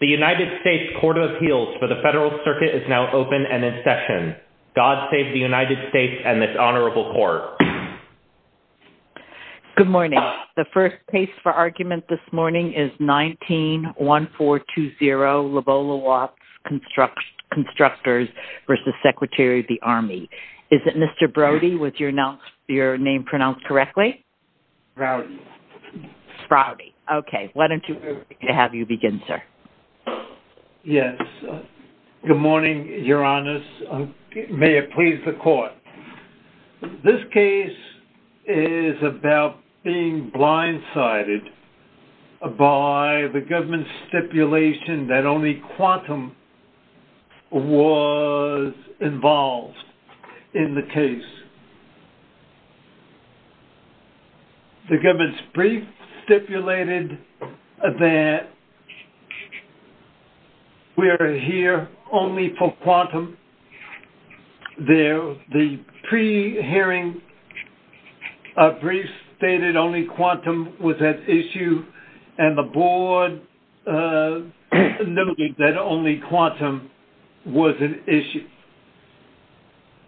The United States Court of Appeals for the Federal Circuit is now open and in session. God save the United States and this Honorable Court. Good morning. The first case for argument this morning is 19-1420 Lobolo-Watts Constructors v. Secretary of the Army. Is it Mr. Brody? Was your name pronounced correctly? Brody. Brody. Okay. Why don't you have you begin, sir. Yes. Good morning, Your Honors. May it please the Court. This case is about being blindsided by the government's stipulation that only quantum was involved in the case. The government's brief stipulated that we are here only for quantum. The pre-hearing brief stated only quantum was an issue and the board noted that only quantum was an issue.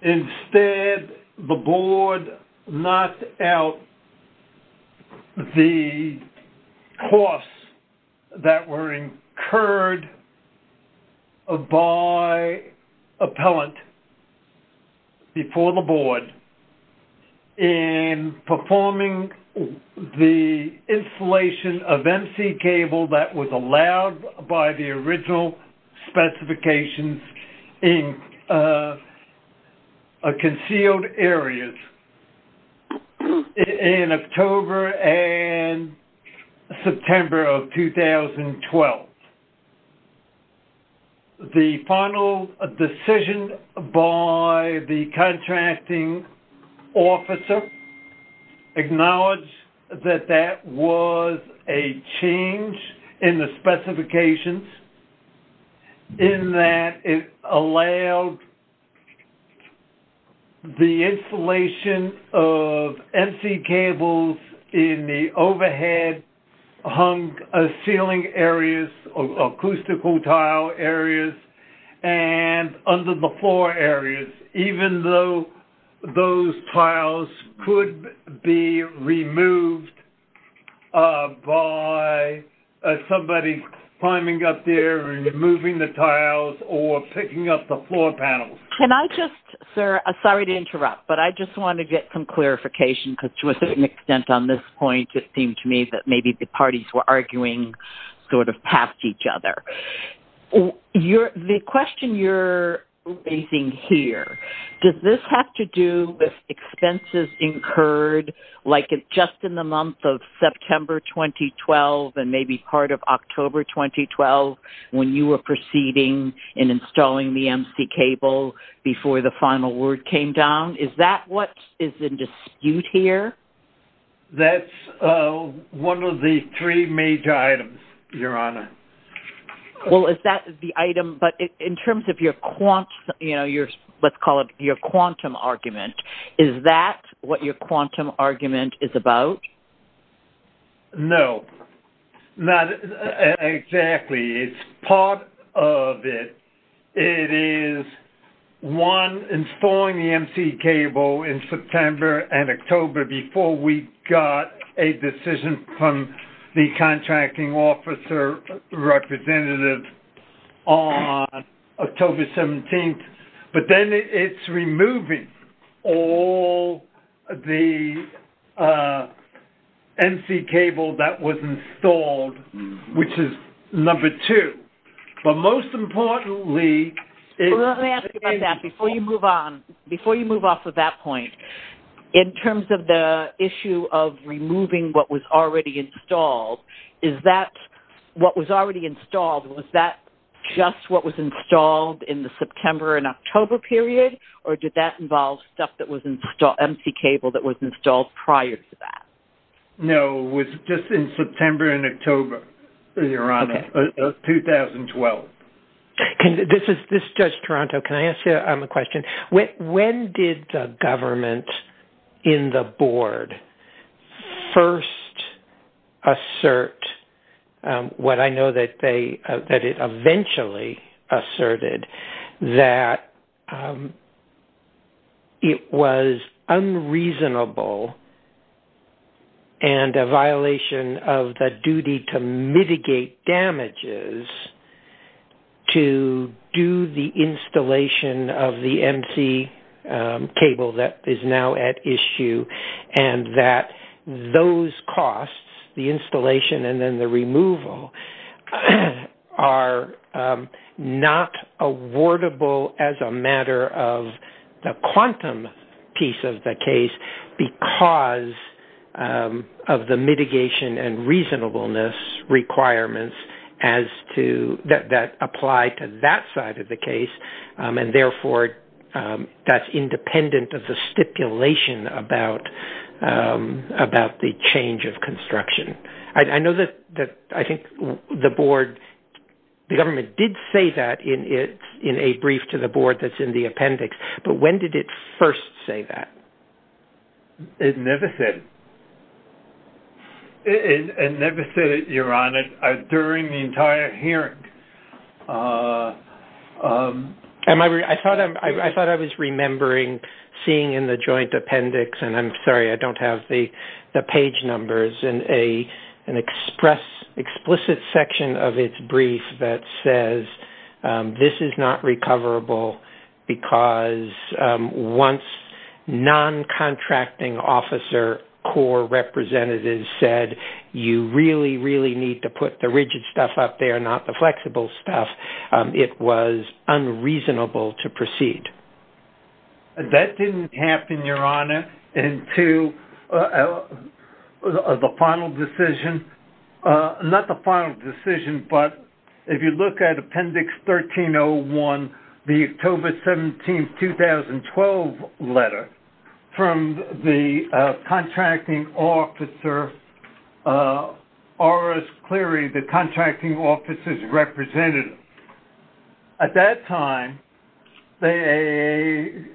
Instead, the board knocked out the costs that were incurred by appellant before the board in performing the installation of MC cable that was allowed by the original specifications in concealed areas in October and September of 2012. The final decision by the contracting officer acknowledged that that was a change in the specifications in that it allowed the installation of MC cables in the overhead hung ceiling areas, acoustical tile areas, and under the floor areas, even though those tiles could be removed by somebody climbing up there and removing the tiles or picking up the floor panels. Can I just, sir, sorry to interrupt, but I just want to get some clarification because to a certain extent on this point it seemed to me that maybe the parties were arguing sort of past each other. The question you're raising here, does this have to do with expenses incurred like just in the month of September 2012 and maybe part of October 2012 when you were proceeding in installing the MC cable before the final word came down? Is that what is in dispute here? That's one of the three major items, Your Honor. Well, is that the item, but in terms of your quantum, let's call it your quantum argument, is that what your quantum argument is about? No, not exactly. It's part of it. It is, one, installing the MC cable in September and October before we got a decision from the contracting officer representative on October 17th, but then it's removing all the MC cable that was installed, which is number two. Well, let me ask you about that before you move on. Before you move off of that point, in terms of the issue of removing what was already installed, is that what was already installed, was that just what was installed in the September and October period, or did that involve stuff that was MC cable that was installed prior to that? No, it was just in September and October, Your Honor, of 2012. This is Judge Toronto. Can I ask you a question? When did the government in the board first assert what I know that it eventually asserted, that it was unreasonable and a violation of the duty to mitigate damages to do the installation of the MC cable? The MC cable that is now at issue and that those costs, the installation and then the removal, are not awardable as a matter of the quantum piece of the case because of the mitigation and reasonableness requirements that apply to that side of the case. And therefore, that's independent of the stipulation about the change of construction. I know that I think the board, the government did say that in a brief to the board that's in the appendix, but when did it first say that? It never said it. It never said it, Your Honor, during the entire hearing. I thought I was remembering seeing in the joint appendix, and I'm sorry, I don't have the page numbers, an explicit section of its brief that says, This is not recoverable because once non-contracting officer core representatives said you really, really need to put the rigid stuff up there, not the flexible stuff, it was unreasonable to proceed. That didn't happen, Your Honor, until the final decision, not the final decision, but if you look at appendix 1301, the October 17, 2012 letter from the contracting officer, Oris Cleary, the contracting officer's representative. At that time, they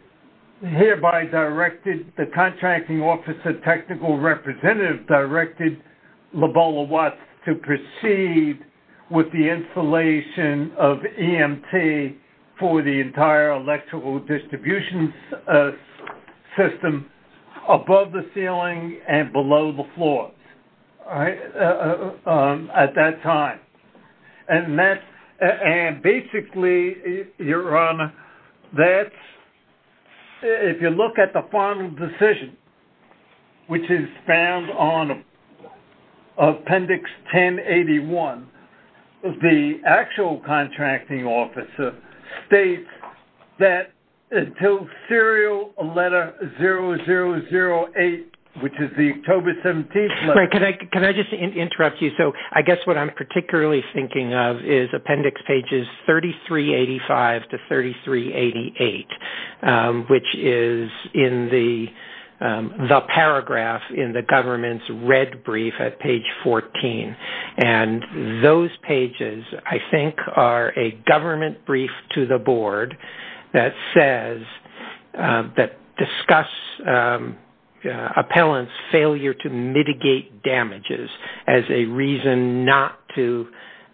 hereby directed the contracting officer technical representative directed Lobola Watts to proceed with the installation of EMT for the entire electrical distribution system above the ceiling and below the floors at that time. And basically, Your Honor, if you look at the final decision, which is found on appendix 1081, the actual contracting officer states that until serial letter 0008, which is the October 17 letter. Can I just interrupt you? So I guess what I'm particularly thinking of is appendix pages 3385 to 3388, which is in the paragraph in the government's red brief at page 14. And those pages, I think, are a government brief to the board that says that discuss appellant's failure to mitigate damages as a reason not to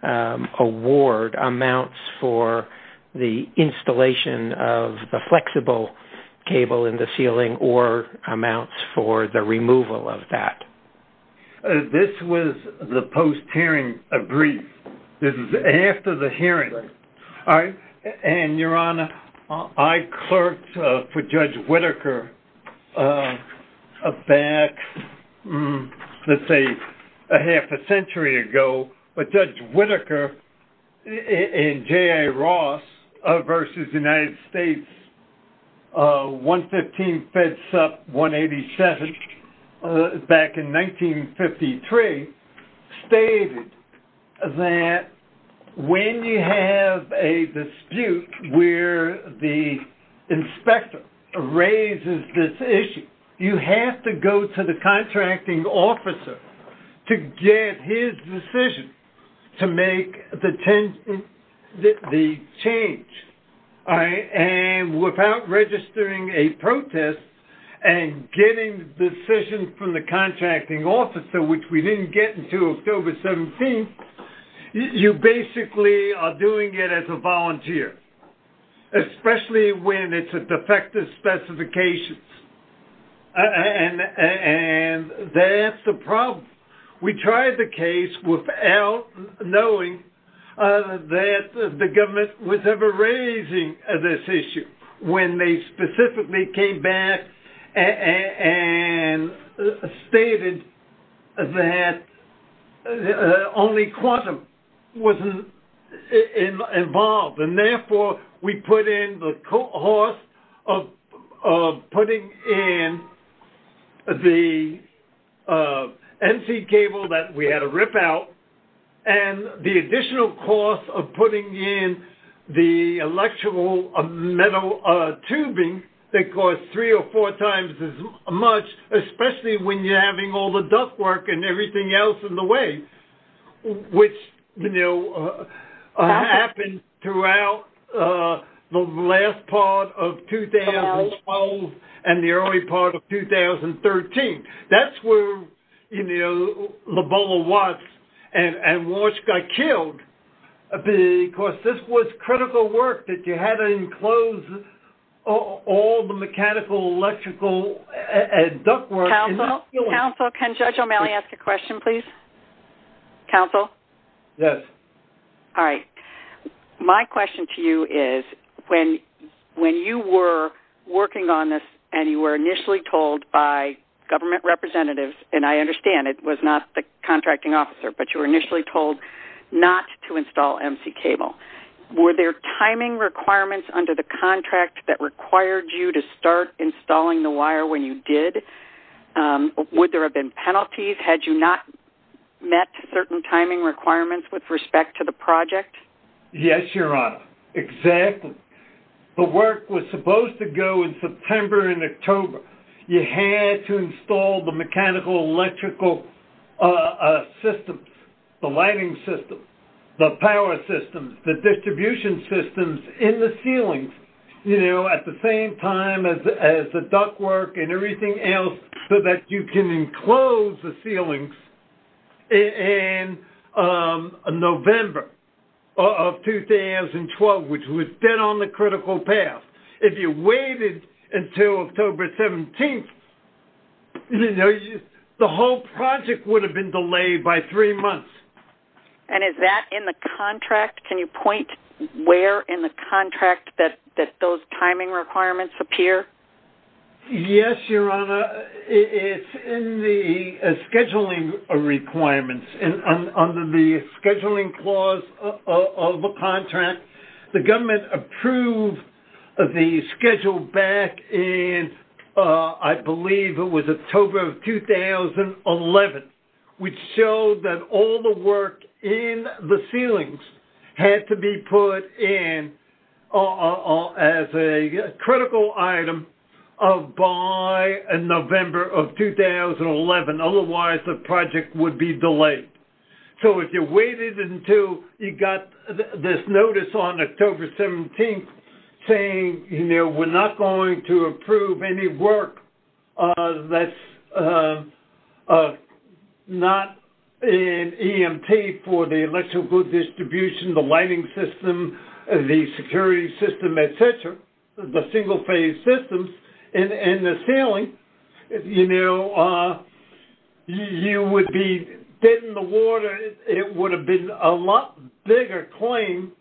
award amounts for the installation of the flexible cable in the ceiling or amounts for the removal of that. This was the post hearing brief. This is after the hearing. And Your Honor, I clerked for Judge Whitaker back, let's say, a half a century ago. But Judge Whitaker and J.A. Ross versus United States 115 fed sup 187 back in 1953 stated that when you have a dispute where the inspector raises this issue, you have to go to the contracting officer to get his decision. To make the change. And without registering a protest and getting the decision from the contracting officer, which we didn't get until October 17, you basically are doing it as a volunteer. Especially when it's a defective specification. And that's the problem. We tried the case without knowing that the government was ever raising this issue when they specifically came back and stated that only quantum was involved. And therefore, we put in the cost of putting in the NC cable that we had a rip out and the additional cost of putting in the electrical metal tubing that cost three or four times as much, especially when you're having all the duct work and everything else in the way. Which, you know, happened throughout the last part of 2012 and the early part of 2013. That's where, you know, the bubble was. And Walsh got killed because this was critical work that you had to enclose all the mechanical, electrical, and duct work. Counsel, can Judge O'Malley ask a question, please? Counsel? Yes. All right. My question to you is when you were working on this and you were initially told by government representatives, and I understand it was not the contracting officer, but you were initially told not to install NC cable, were there timing requirements under the contract that required you to start installing the wire when you did? Would there have been penalties had you not met certain timing requirements with respect to the project? Yes, Your Honor. Exactly. The work was supposed to go in September and October. You had to install the mechanical, electrical systems, the lighting systems, the power systems, the distribution systems in the ceilings, you know, at the same time as the duct work and everything else so that you can enclose the ceilings in November of 2012, which was then on the critical path. If you waited until October 17th, you know, the whole project would have been delayed by three months. And is that in the contract? Can you point where in the contract that those timing requirements appear? Yes, Your Honor. It's in the scheduling requirements. Under the scheduling clause of the contract, the government approved the schedule back in, I believe it was October of 2011, which showed that all the work in the ceilings had to be put in as a critical item by November of 2011. Otherwise, the project would be delayed. So if you waited until you got this notice on October 17th saying, you know, we're not going to approve any work that's not an EMT for the electrical distribution, the lighting system, the security system, et cetera, the single-phase systems in the ceiling, you know, you would be dead in the water. It would have been a lot bigger claim,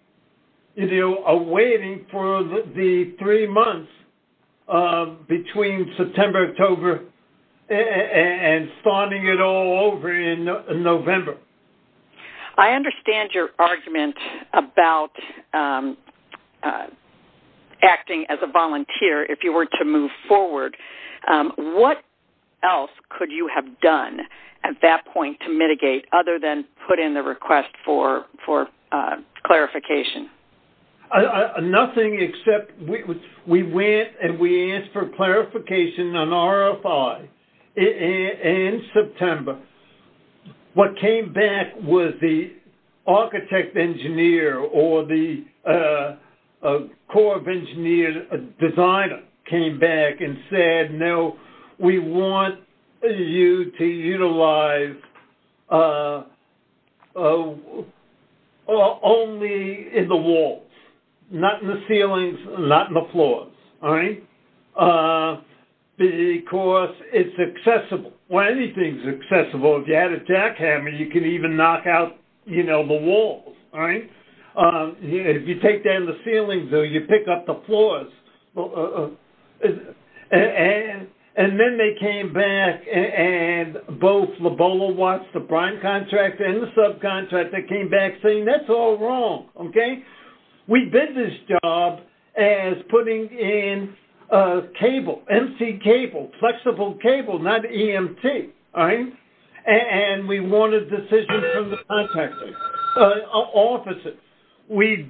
you know, awaiting for the three months between September, October, and starting it all over in November. I understand your argument about acting as a volunteer if you were to move forward. What else could you have done at that point to mitigate other than put in the request for clarification? Nothing except we went and we asked for clarification on RFI in September. What came back was the architect engineer or the Corps of Engineers designer came back and said, no, we want you to utilize only in the walls, not in the ceilings, not in the floors, all right, because it's accessible. Well, anything's accessible. If you had a jackhammer, you could even knock out, you know, the walls, all right? If you take down the ceilings or you pick up the floors. And then they came back and both Lobola Watts, the prime contractor, and the subcontractor came back saying, that's all wrong, okay? We did this job as putting in cable, empty cable, flexible cable, not EMT, all right? And we wanted decisions from the contractors, officers. We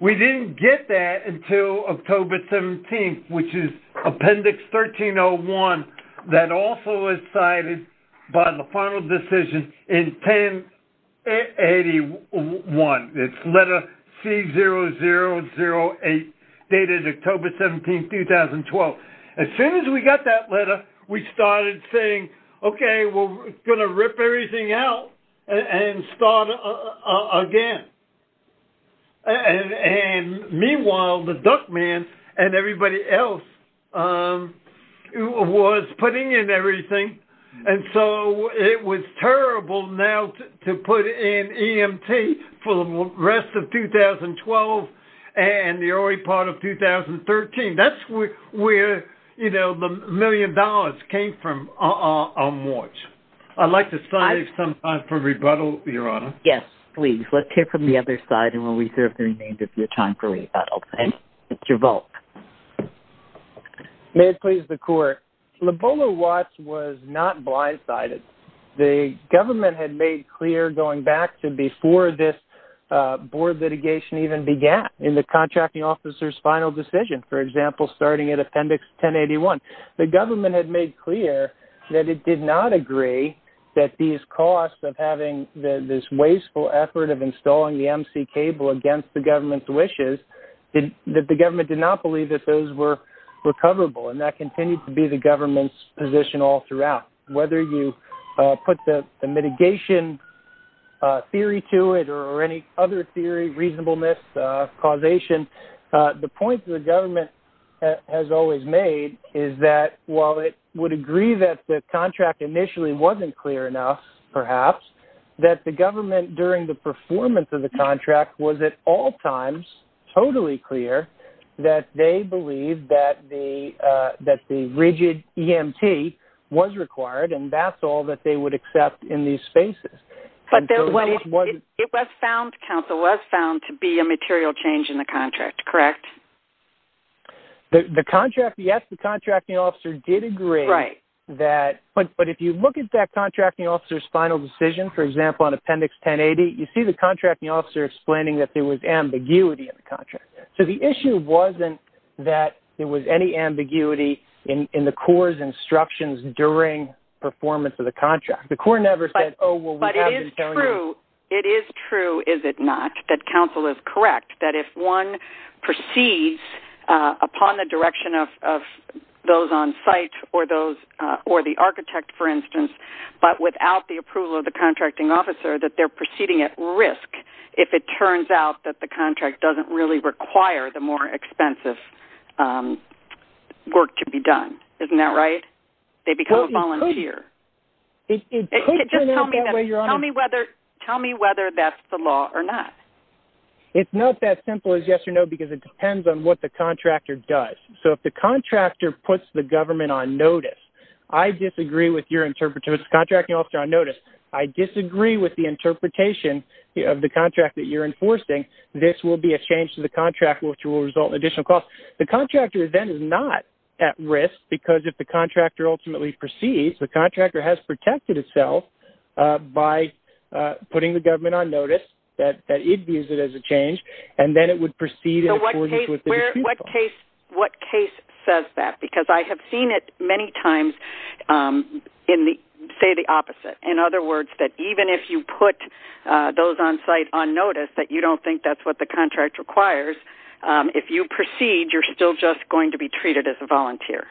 didn't get that until October 17th, which is appendix 1301 that also is cited by the final decision in 1081. It's letter C0008, dated October 17th, 2012. As soon as we got that letter, we started saying, okay, we're going to rip everything out and start again. And meanwhile, the duck man and everybody else was putting in everything. And so it was terrible now to put in EMT for the rest of 2012 and the early part of 2013. That's where, you know, the million dollars came from on watch. I'd like to stop you sometime for rebuttal, Your Honor. Yes, please. Let's hear from the other side and we'll reserve the remainder of your time for rebuttal. And it's your vote. May it please the Court. Lobola Watts was not blindsided. The government had made clear, going back to before this board litigation even began, in the contracting officer's final decision, for example, starting at appendix 1081. The government had made clear that it did not agree that these costs of having this wasteful effort of installing the MC cable against the government's wishes, that the government did not believe that those were recoverable. And that continued to be the government's position all throughout. Whether you put the mitigation theory to it or any other theory, reasonableness, causation, the point the government has always made is that while it would agree that the contract initially wasn't clear enough, perhaps, that the government, during the performance of the contract, was at all times totally clear that they believed that the rigid EMT was required and that's all that they would accept in these spaces. But it was found, counsel, was found to be a material change in the contract, correct? The contract, yes, the contracting officer did agree. Right. But if you look at that contracting officer's final decision, for example, on appendix 1080, you see the contracting officer explaining that there was ambiguity in the contract. So the issue wasn't that there was any ambiguity in the Corps' instructions during performance of the contract. But it is true, is it not, that counsel is correct that if one proceeds upon the direction of those on site or the architect, for instance, but without the approval of the contracting officer, that they're proceeding at risk if it turns out that the contract doesn't really require the more expensive work to be done. Isn't that right? They become a volunteer. Just tell me whether that's the law or not. It's not that simple as yes or no because it depends on what the contractor does. So if the contractor puts the government on notice, I disagree with your interpretation, the contracting officer on notice, I disagree with the interpretation of the contract that you're enforcing, this will be a change to the contract which will result in additional costs. The contractor then is not at risk because if the contractor ultimately proceeds, the contractor has protected itself by putting the government on notice that it views it as a change, and then it would proceed in accordance with the decision. So what case says that? Because I have seen it many times say the opposite. In other words, that even if you put those on site on notice that you don't think that's what the contract requires, if you proceed, you're still just going to be treated as a volunteer.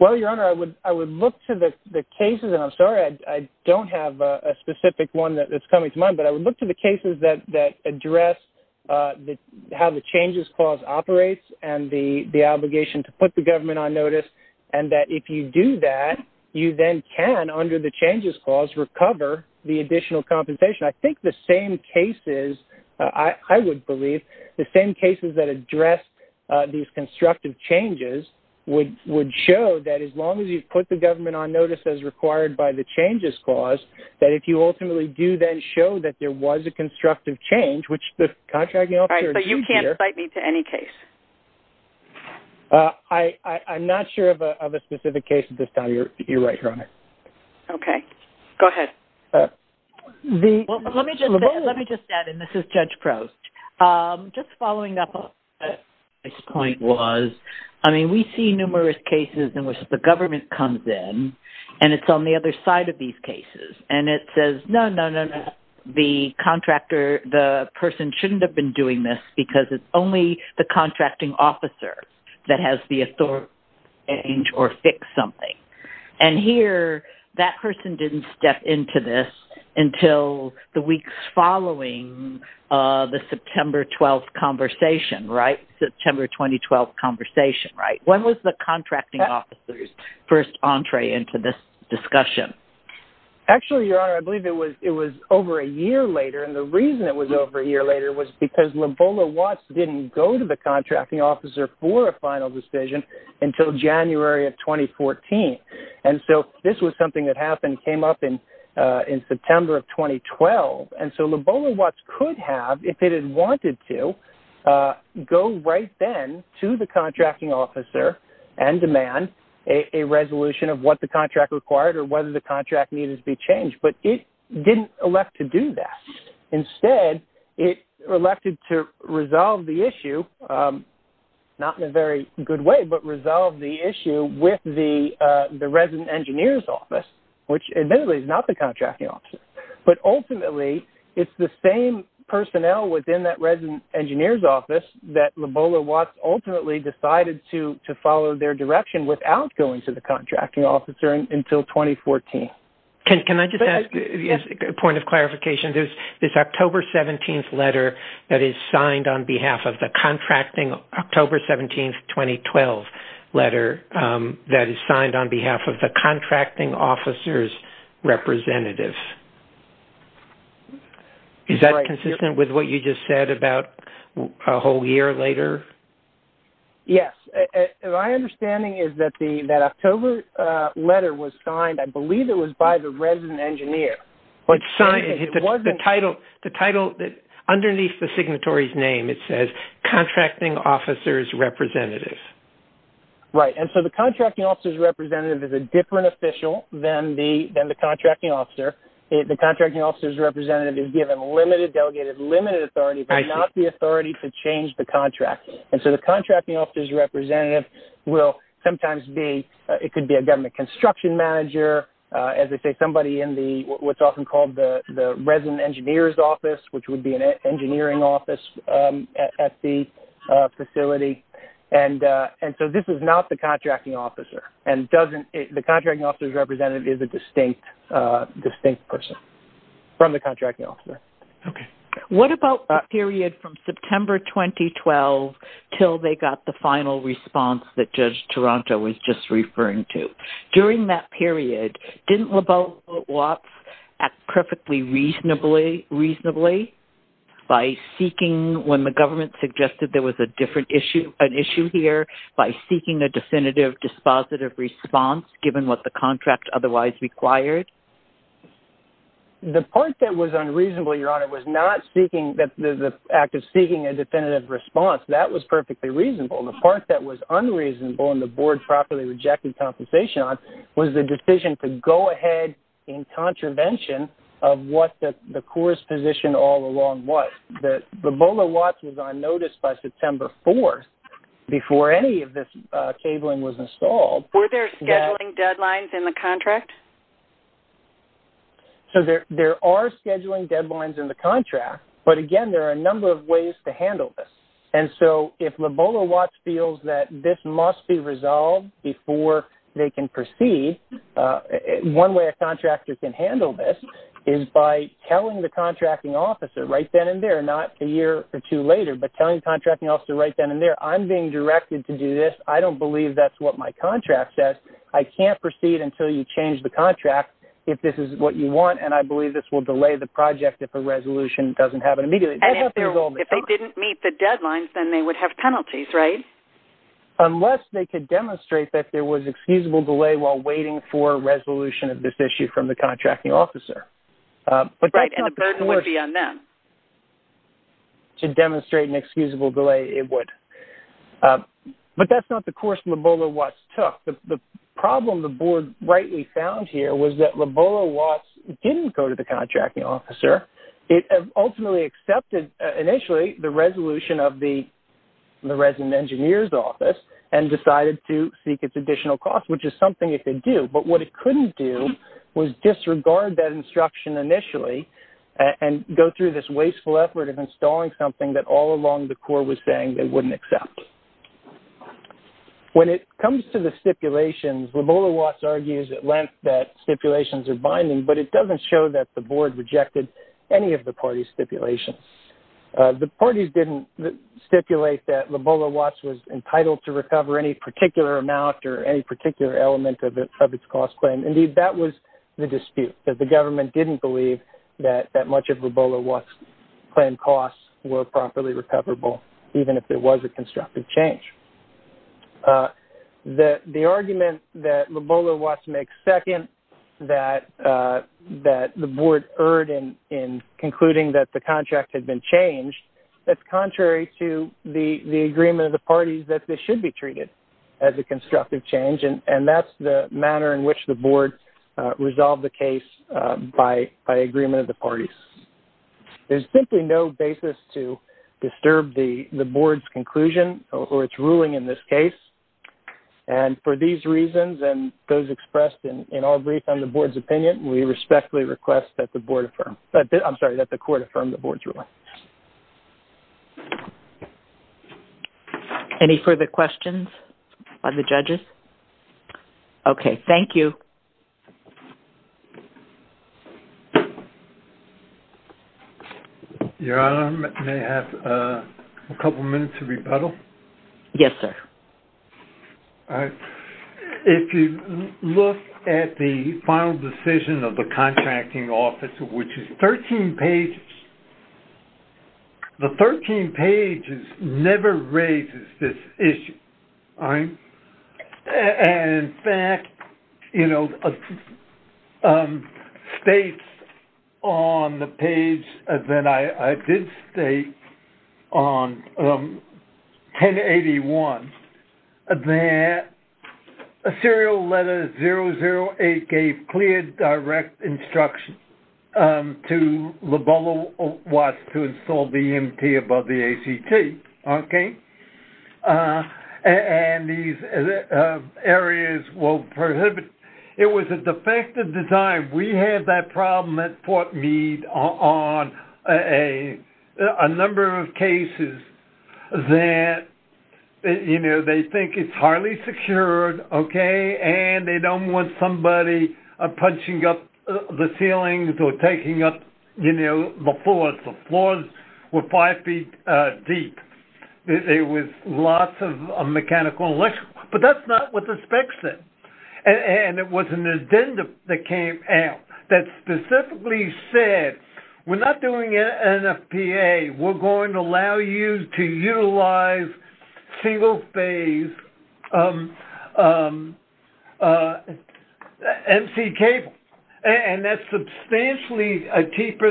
Well, Your Honor, I would look to the cases, and I'm sorry I don't have a specific one that's coming to mind, but I would look to the cases that address how the changes clause operates and the obligation to put the government on notice, and that if you do that, you then can, under the changes clause, recover the additional compensation. I think the same cases, I would believe, the same cases that address these constructive changes would show that as long as you put the government on notice as required by the changes clause, that if you ultimately do then show that there was a constructive change, which the contracting officer... All right, so you can't cite me to any case? I'm not sure of a specific case at this time. You're right, Your Honor. Okay. Go ahead. Well, let me just add, and this is Judge Prost. Just following up on what my point was, I mean, we see numerous cases in which the government comes in, and it's on the other side of these cases, and it says, no, no, no, no, the contractor, the person shouldn't have been doing this because it's only the contracting officer that has the authority to change or fix something. And here, that person didn't step into this until the weeks following the September 12th conversation, right? September 2012 conversation, right? When was the contracting officer's first entree into this discussion? Actually, Your Honor, I believe it was over a year later, and the reason it was over a year later was because Lobola Watts didn't go to the contracting officer for a final decision until January of 2014. And so this was something that happened, came up in September of 2012. And so Lobola Watts could have, if it had wanted to, go right then to the contracting officer and demand a resolution of what the contract required or whether the contract needed to be changed. But it didn't elect to do that. Instead, it elected to resolve the issue, not in a very good way, but resolve the issue with the resident engineer's office, which admittedly is not the contracting officer. But ultimately, it's the same personnel within that resident engineer's office that Lobola Watts ultimately decided to follow their direction without going to the contracting officer until 2014. Can I just ask a point of clarification? There's this October 17th letter that is signed on behalf of the contracting... October 17th, 2012 letter that is signed on behalf of the contracting officer's representative. Is that consistent with what you just said about a whole year later? Yes. My understanding is that that October letter was signed, I believe it was, by the resident engineer. The title, underneath the signatory's name, it says, Contracting Officer's Representative. Right. And so the contracting officer's representative is a different official than the contracting officer. The contracting officer's representative is given limited, delegated, limited authority, but not the authority to change the contract. And so the contracting officer's representative will sometimes be... It could be a government construction manager, as I say, somebody in what's often called the resident engineer's office, which would be an engineering office at the facility. And so this is not the contracting officer. And the contracting officer's representative is a distinct person from the contracting officer. Okay. What about the period from September 2012 till they got the final response that Judge Toronto was just referring to? During that period, didn't LaBeouf-Watts act perfectly reasonably by seeking... When the government suggested there was a different issue, an issue here, by seeking a definitive, dispositive response, given what the contract otherwise required? The part that was unreasonable, Your Honor, was not the act of seeking a definitive response. That was perfectly reasonable. The part that was unreasonable and the board properly rejected compensation on was the decision to go ahead in contravention of what the course position all along was. LaBeouf-Watts was on notice by September 4th, before any of this cabling was installed. Were there scheduling deadlines in the contract? So there are scheduling deadlines in the contract, but, again, there are a number of ways to handle this. And so if LaBeouf-Watts feels that this must be resolved before they can proceed, one way a contractor can handle this is by telling the contracting officer right then and there, not a year or two later, but telling the contracting officer right then and there, I'm being directed to do this. I don't believe that's what my contract says. I can't proceed until you change the contract, if this is what you want, and I believe this will delay the project if a resolution doesn't happen immediately. And if they didn't meet the deadlines, then they would have penalties, right? Unless they could demonstrate that there was excusable delay while waiting for a resolution of this issue from the contracting officer. Right, and the burden would be on them. To demonstrate an excusable delay, it would. But that's not the course LaBeouf-Watts took. The problem the board rightly found here was that LaBeouf-Watts didn't go to the contracting officer. It ultimately accepted, initially, the resolution of the resident engineer's office and decided to seek its additional cost, which is something it could do. But what it couldn't do was disregard that instruction initially and go through this wasteful effort of installing something that all along the Corps was saying they wouldn't accept. When it comes to the stipulations, LaBeouf-Watts argues at length that stipulations are binding, but it doesn't show that the board rejected any of the parties' stipulations. The parties didn't stipulate that LaBeouf-Watts was entitled to recover any particular amount or any particular element of its cost claim. Indeed, that was the dispute, that the government didn't believe that much of LaBeouf-Watts' claim costs were properly recoverable, even if there was a constructive change. The argument that LaBeouf-Watts makes second, that the board erred in concluding that the contract had been changed, that's contrary to the agreement of the parties that this should be treated as a constructive change, and that's the manner in which the board resolved the case by agreement of the parties. There's simply no basis to disturb the board's conclusion or its ruling in this case. And for these reasons and those expressed in our brief on the board's opinion, we respectfully request that the court affirm the board's ruling. Any further questions by the judges? Okay, thank you. Your Honor, may I have a couple minutes to rebuttal? Yes, sir. If you look at the final decision of the contracting office, which is 13 pages, the 13 pages never raises this issue. And in fact, you know, states on the page that I did state on 1081, that serial letter 008 gave clear, direct instruction to LaBeouf-Watts to install the EMP above the ACT. Okay? And these areas will prohibit. It was a defective design. We had that problem at Fort Meade on a number of cases that, you know, they think it's highly secured, okay, and they don't want somebody punching up the ceilings or taking up, you know, the floors. The floors were five feet deep. It was lots of mechanical and electrical. But that's not what the specs said. And it was an addendum that came out that specifically said, we're not doing NFPA. We're going to allow you to utilize single-phase MC cable. And that's substantially cheaper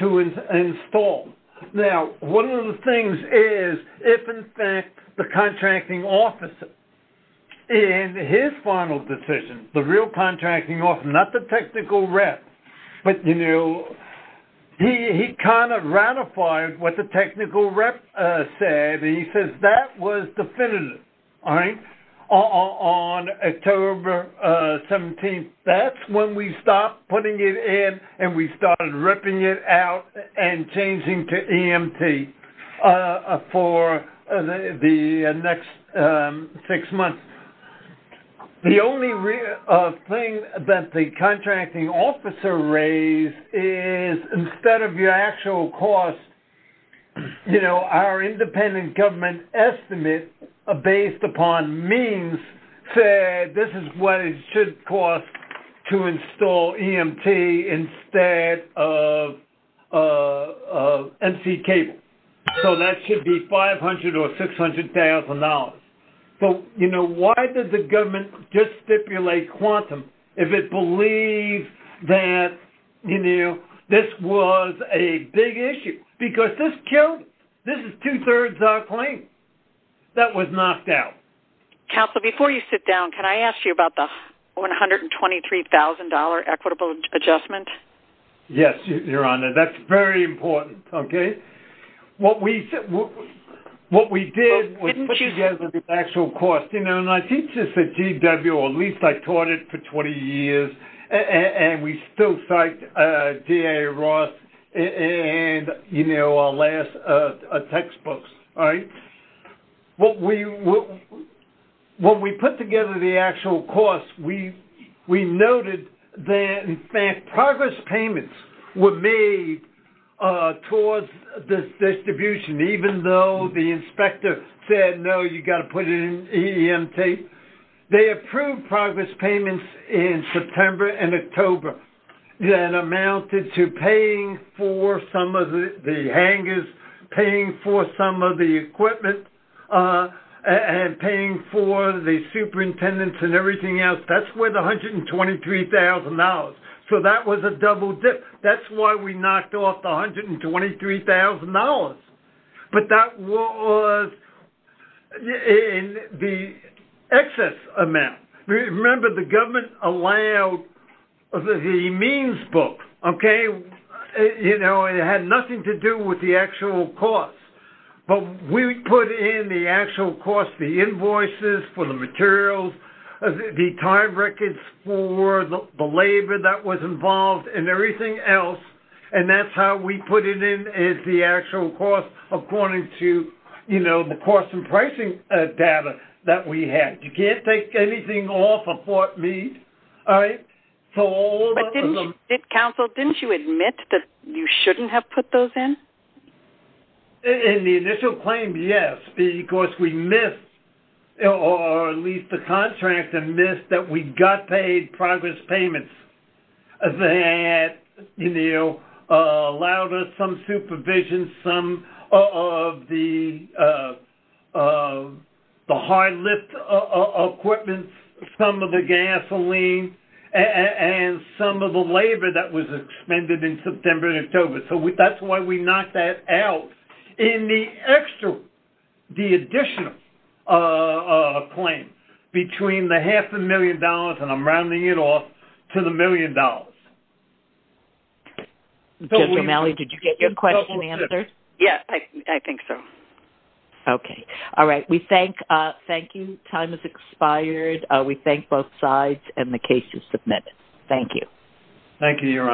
to install. Now, one of the things is, if in fact the contracting officer in his final decision, the real contracting officer, not the technical rep, but, you know, he kind of ratified what the technical rep said. And he says that was definitive, all right, on October 17th. That's when we stopped putting it in and we started ripping it out and changing to EMT for the next six months. The only thing that the contracting officer raised is instead of your actual cost, you know, our independent government estimate based upon means said this is what it should cost to install EMT instead of MC cable. So that should be $500,000 or $600,000. So, you know, why did the government just stipulate quantum if it believes that, you know, this was a big issue? Because this killed it. This is two-thirds our claim. That was knocked out. Counsel, before you sit down, can I ask you about the $123,000 equitable adjustment? Yes, Your Honor. That's very important, okay? What we did was put together the actual cost. You know, and I teach this at GW, or at least I taught it for 20 years, and we still cite D.A. Ross and, you know, our last textbooks, all right? But when we put together the actual cost, we noted that, in fact, progress payments were made towards this distribution, even though the inspector said, no, you've got to put it in EMT. They approved progress payments in September and October that amounted to paying for some of the hangers, paying for some of the equipment, and paying for the superintendents and everything else. That's worth $123,000. So that was a double dip. That's why we knocked off the $123,000. But that was in the excess amount. Remember, the government allowed the means book, okay? You know, it had nothing to do with the actual cost. But we put in the actual cost, the invoices for the materials, the time records for the labor that was involved, and everything else, and that's how we put it in as the actual cost according to, you know, the cost and pricing data that we had. You can't take anything off of Fort Meade, all right? Counsel, didn't you admit that you shouldn't have put those in? In the initial claim, yes. Or at least the contractor missed that we got paid progress payments that, you know, allowed us some supervision, some of the hard lift equipment, some of the gasoline, and some of the labor that was expended in September and October. So that's why we knocked that out. In the extra, the additional claim between the half a million dollars, and I'm rounding it off, to the million dollars. Judge O'Malley, did you get your question answered? Yes, I think so. Okay. All right. We thank you. Time has expired. We thank both sides, and the case is submitted. Thank you. Thank you, Your Honor.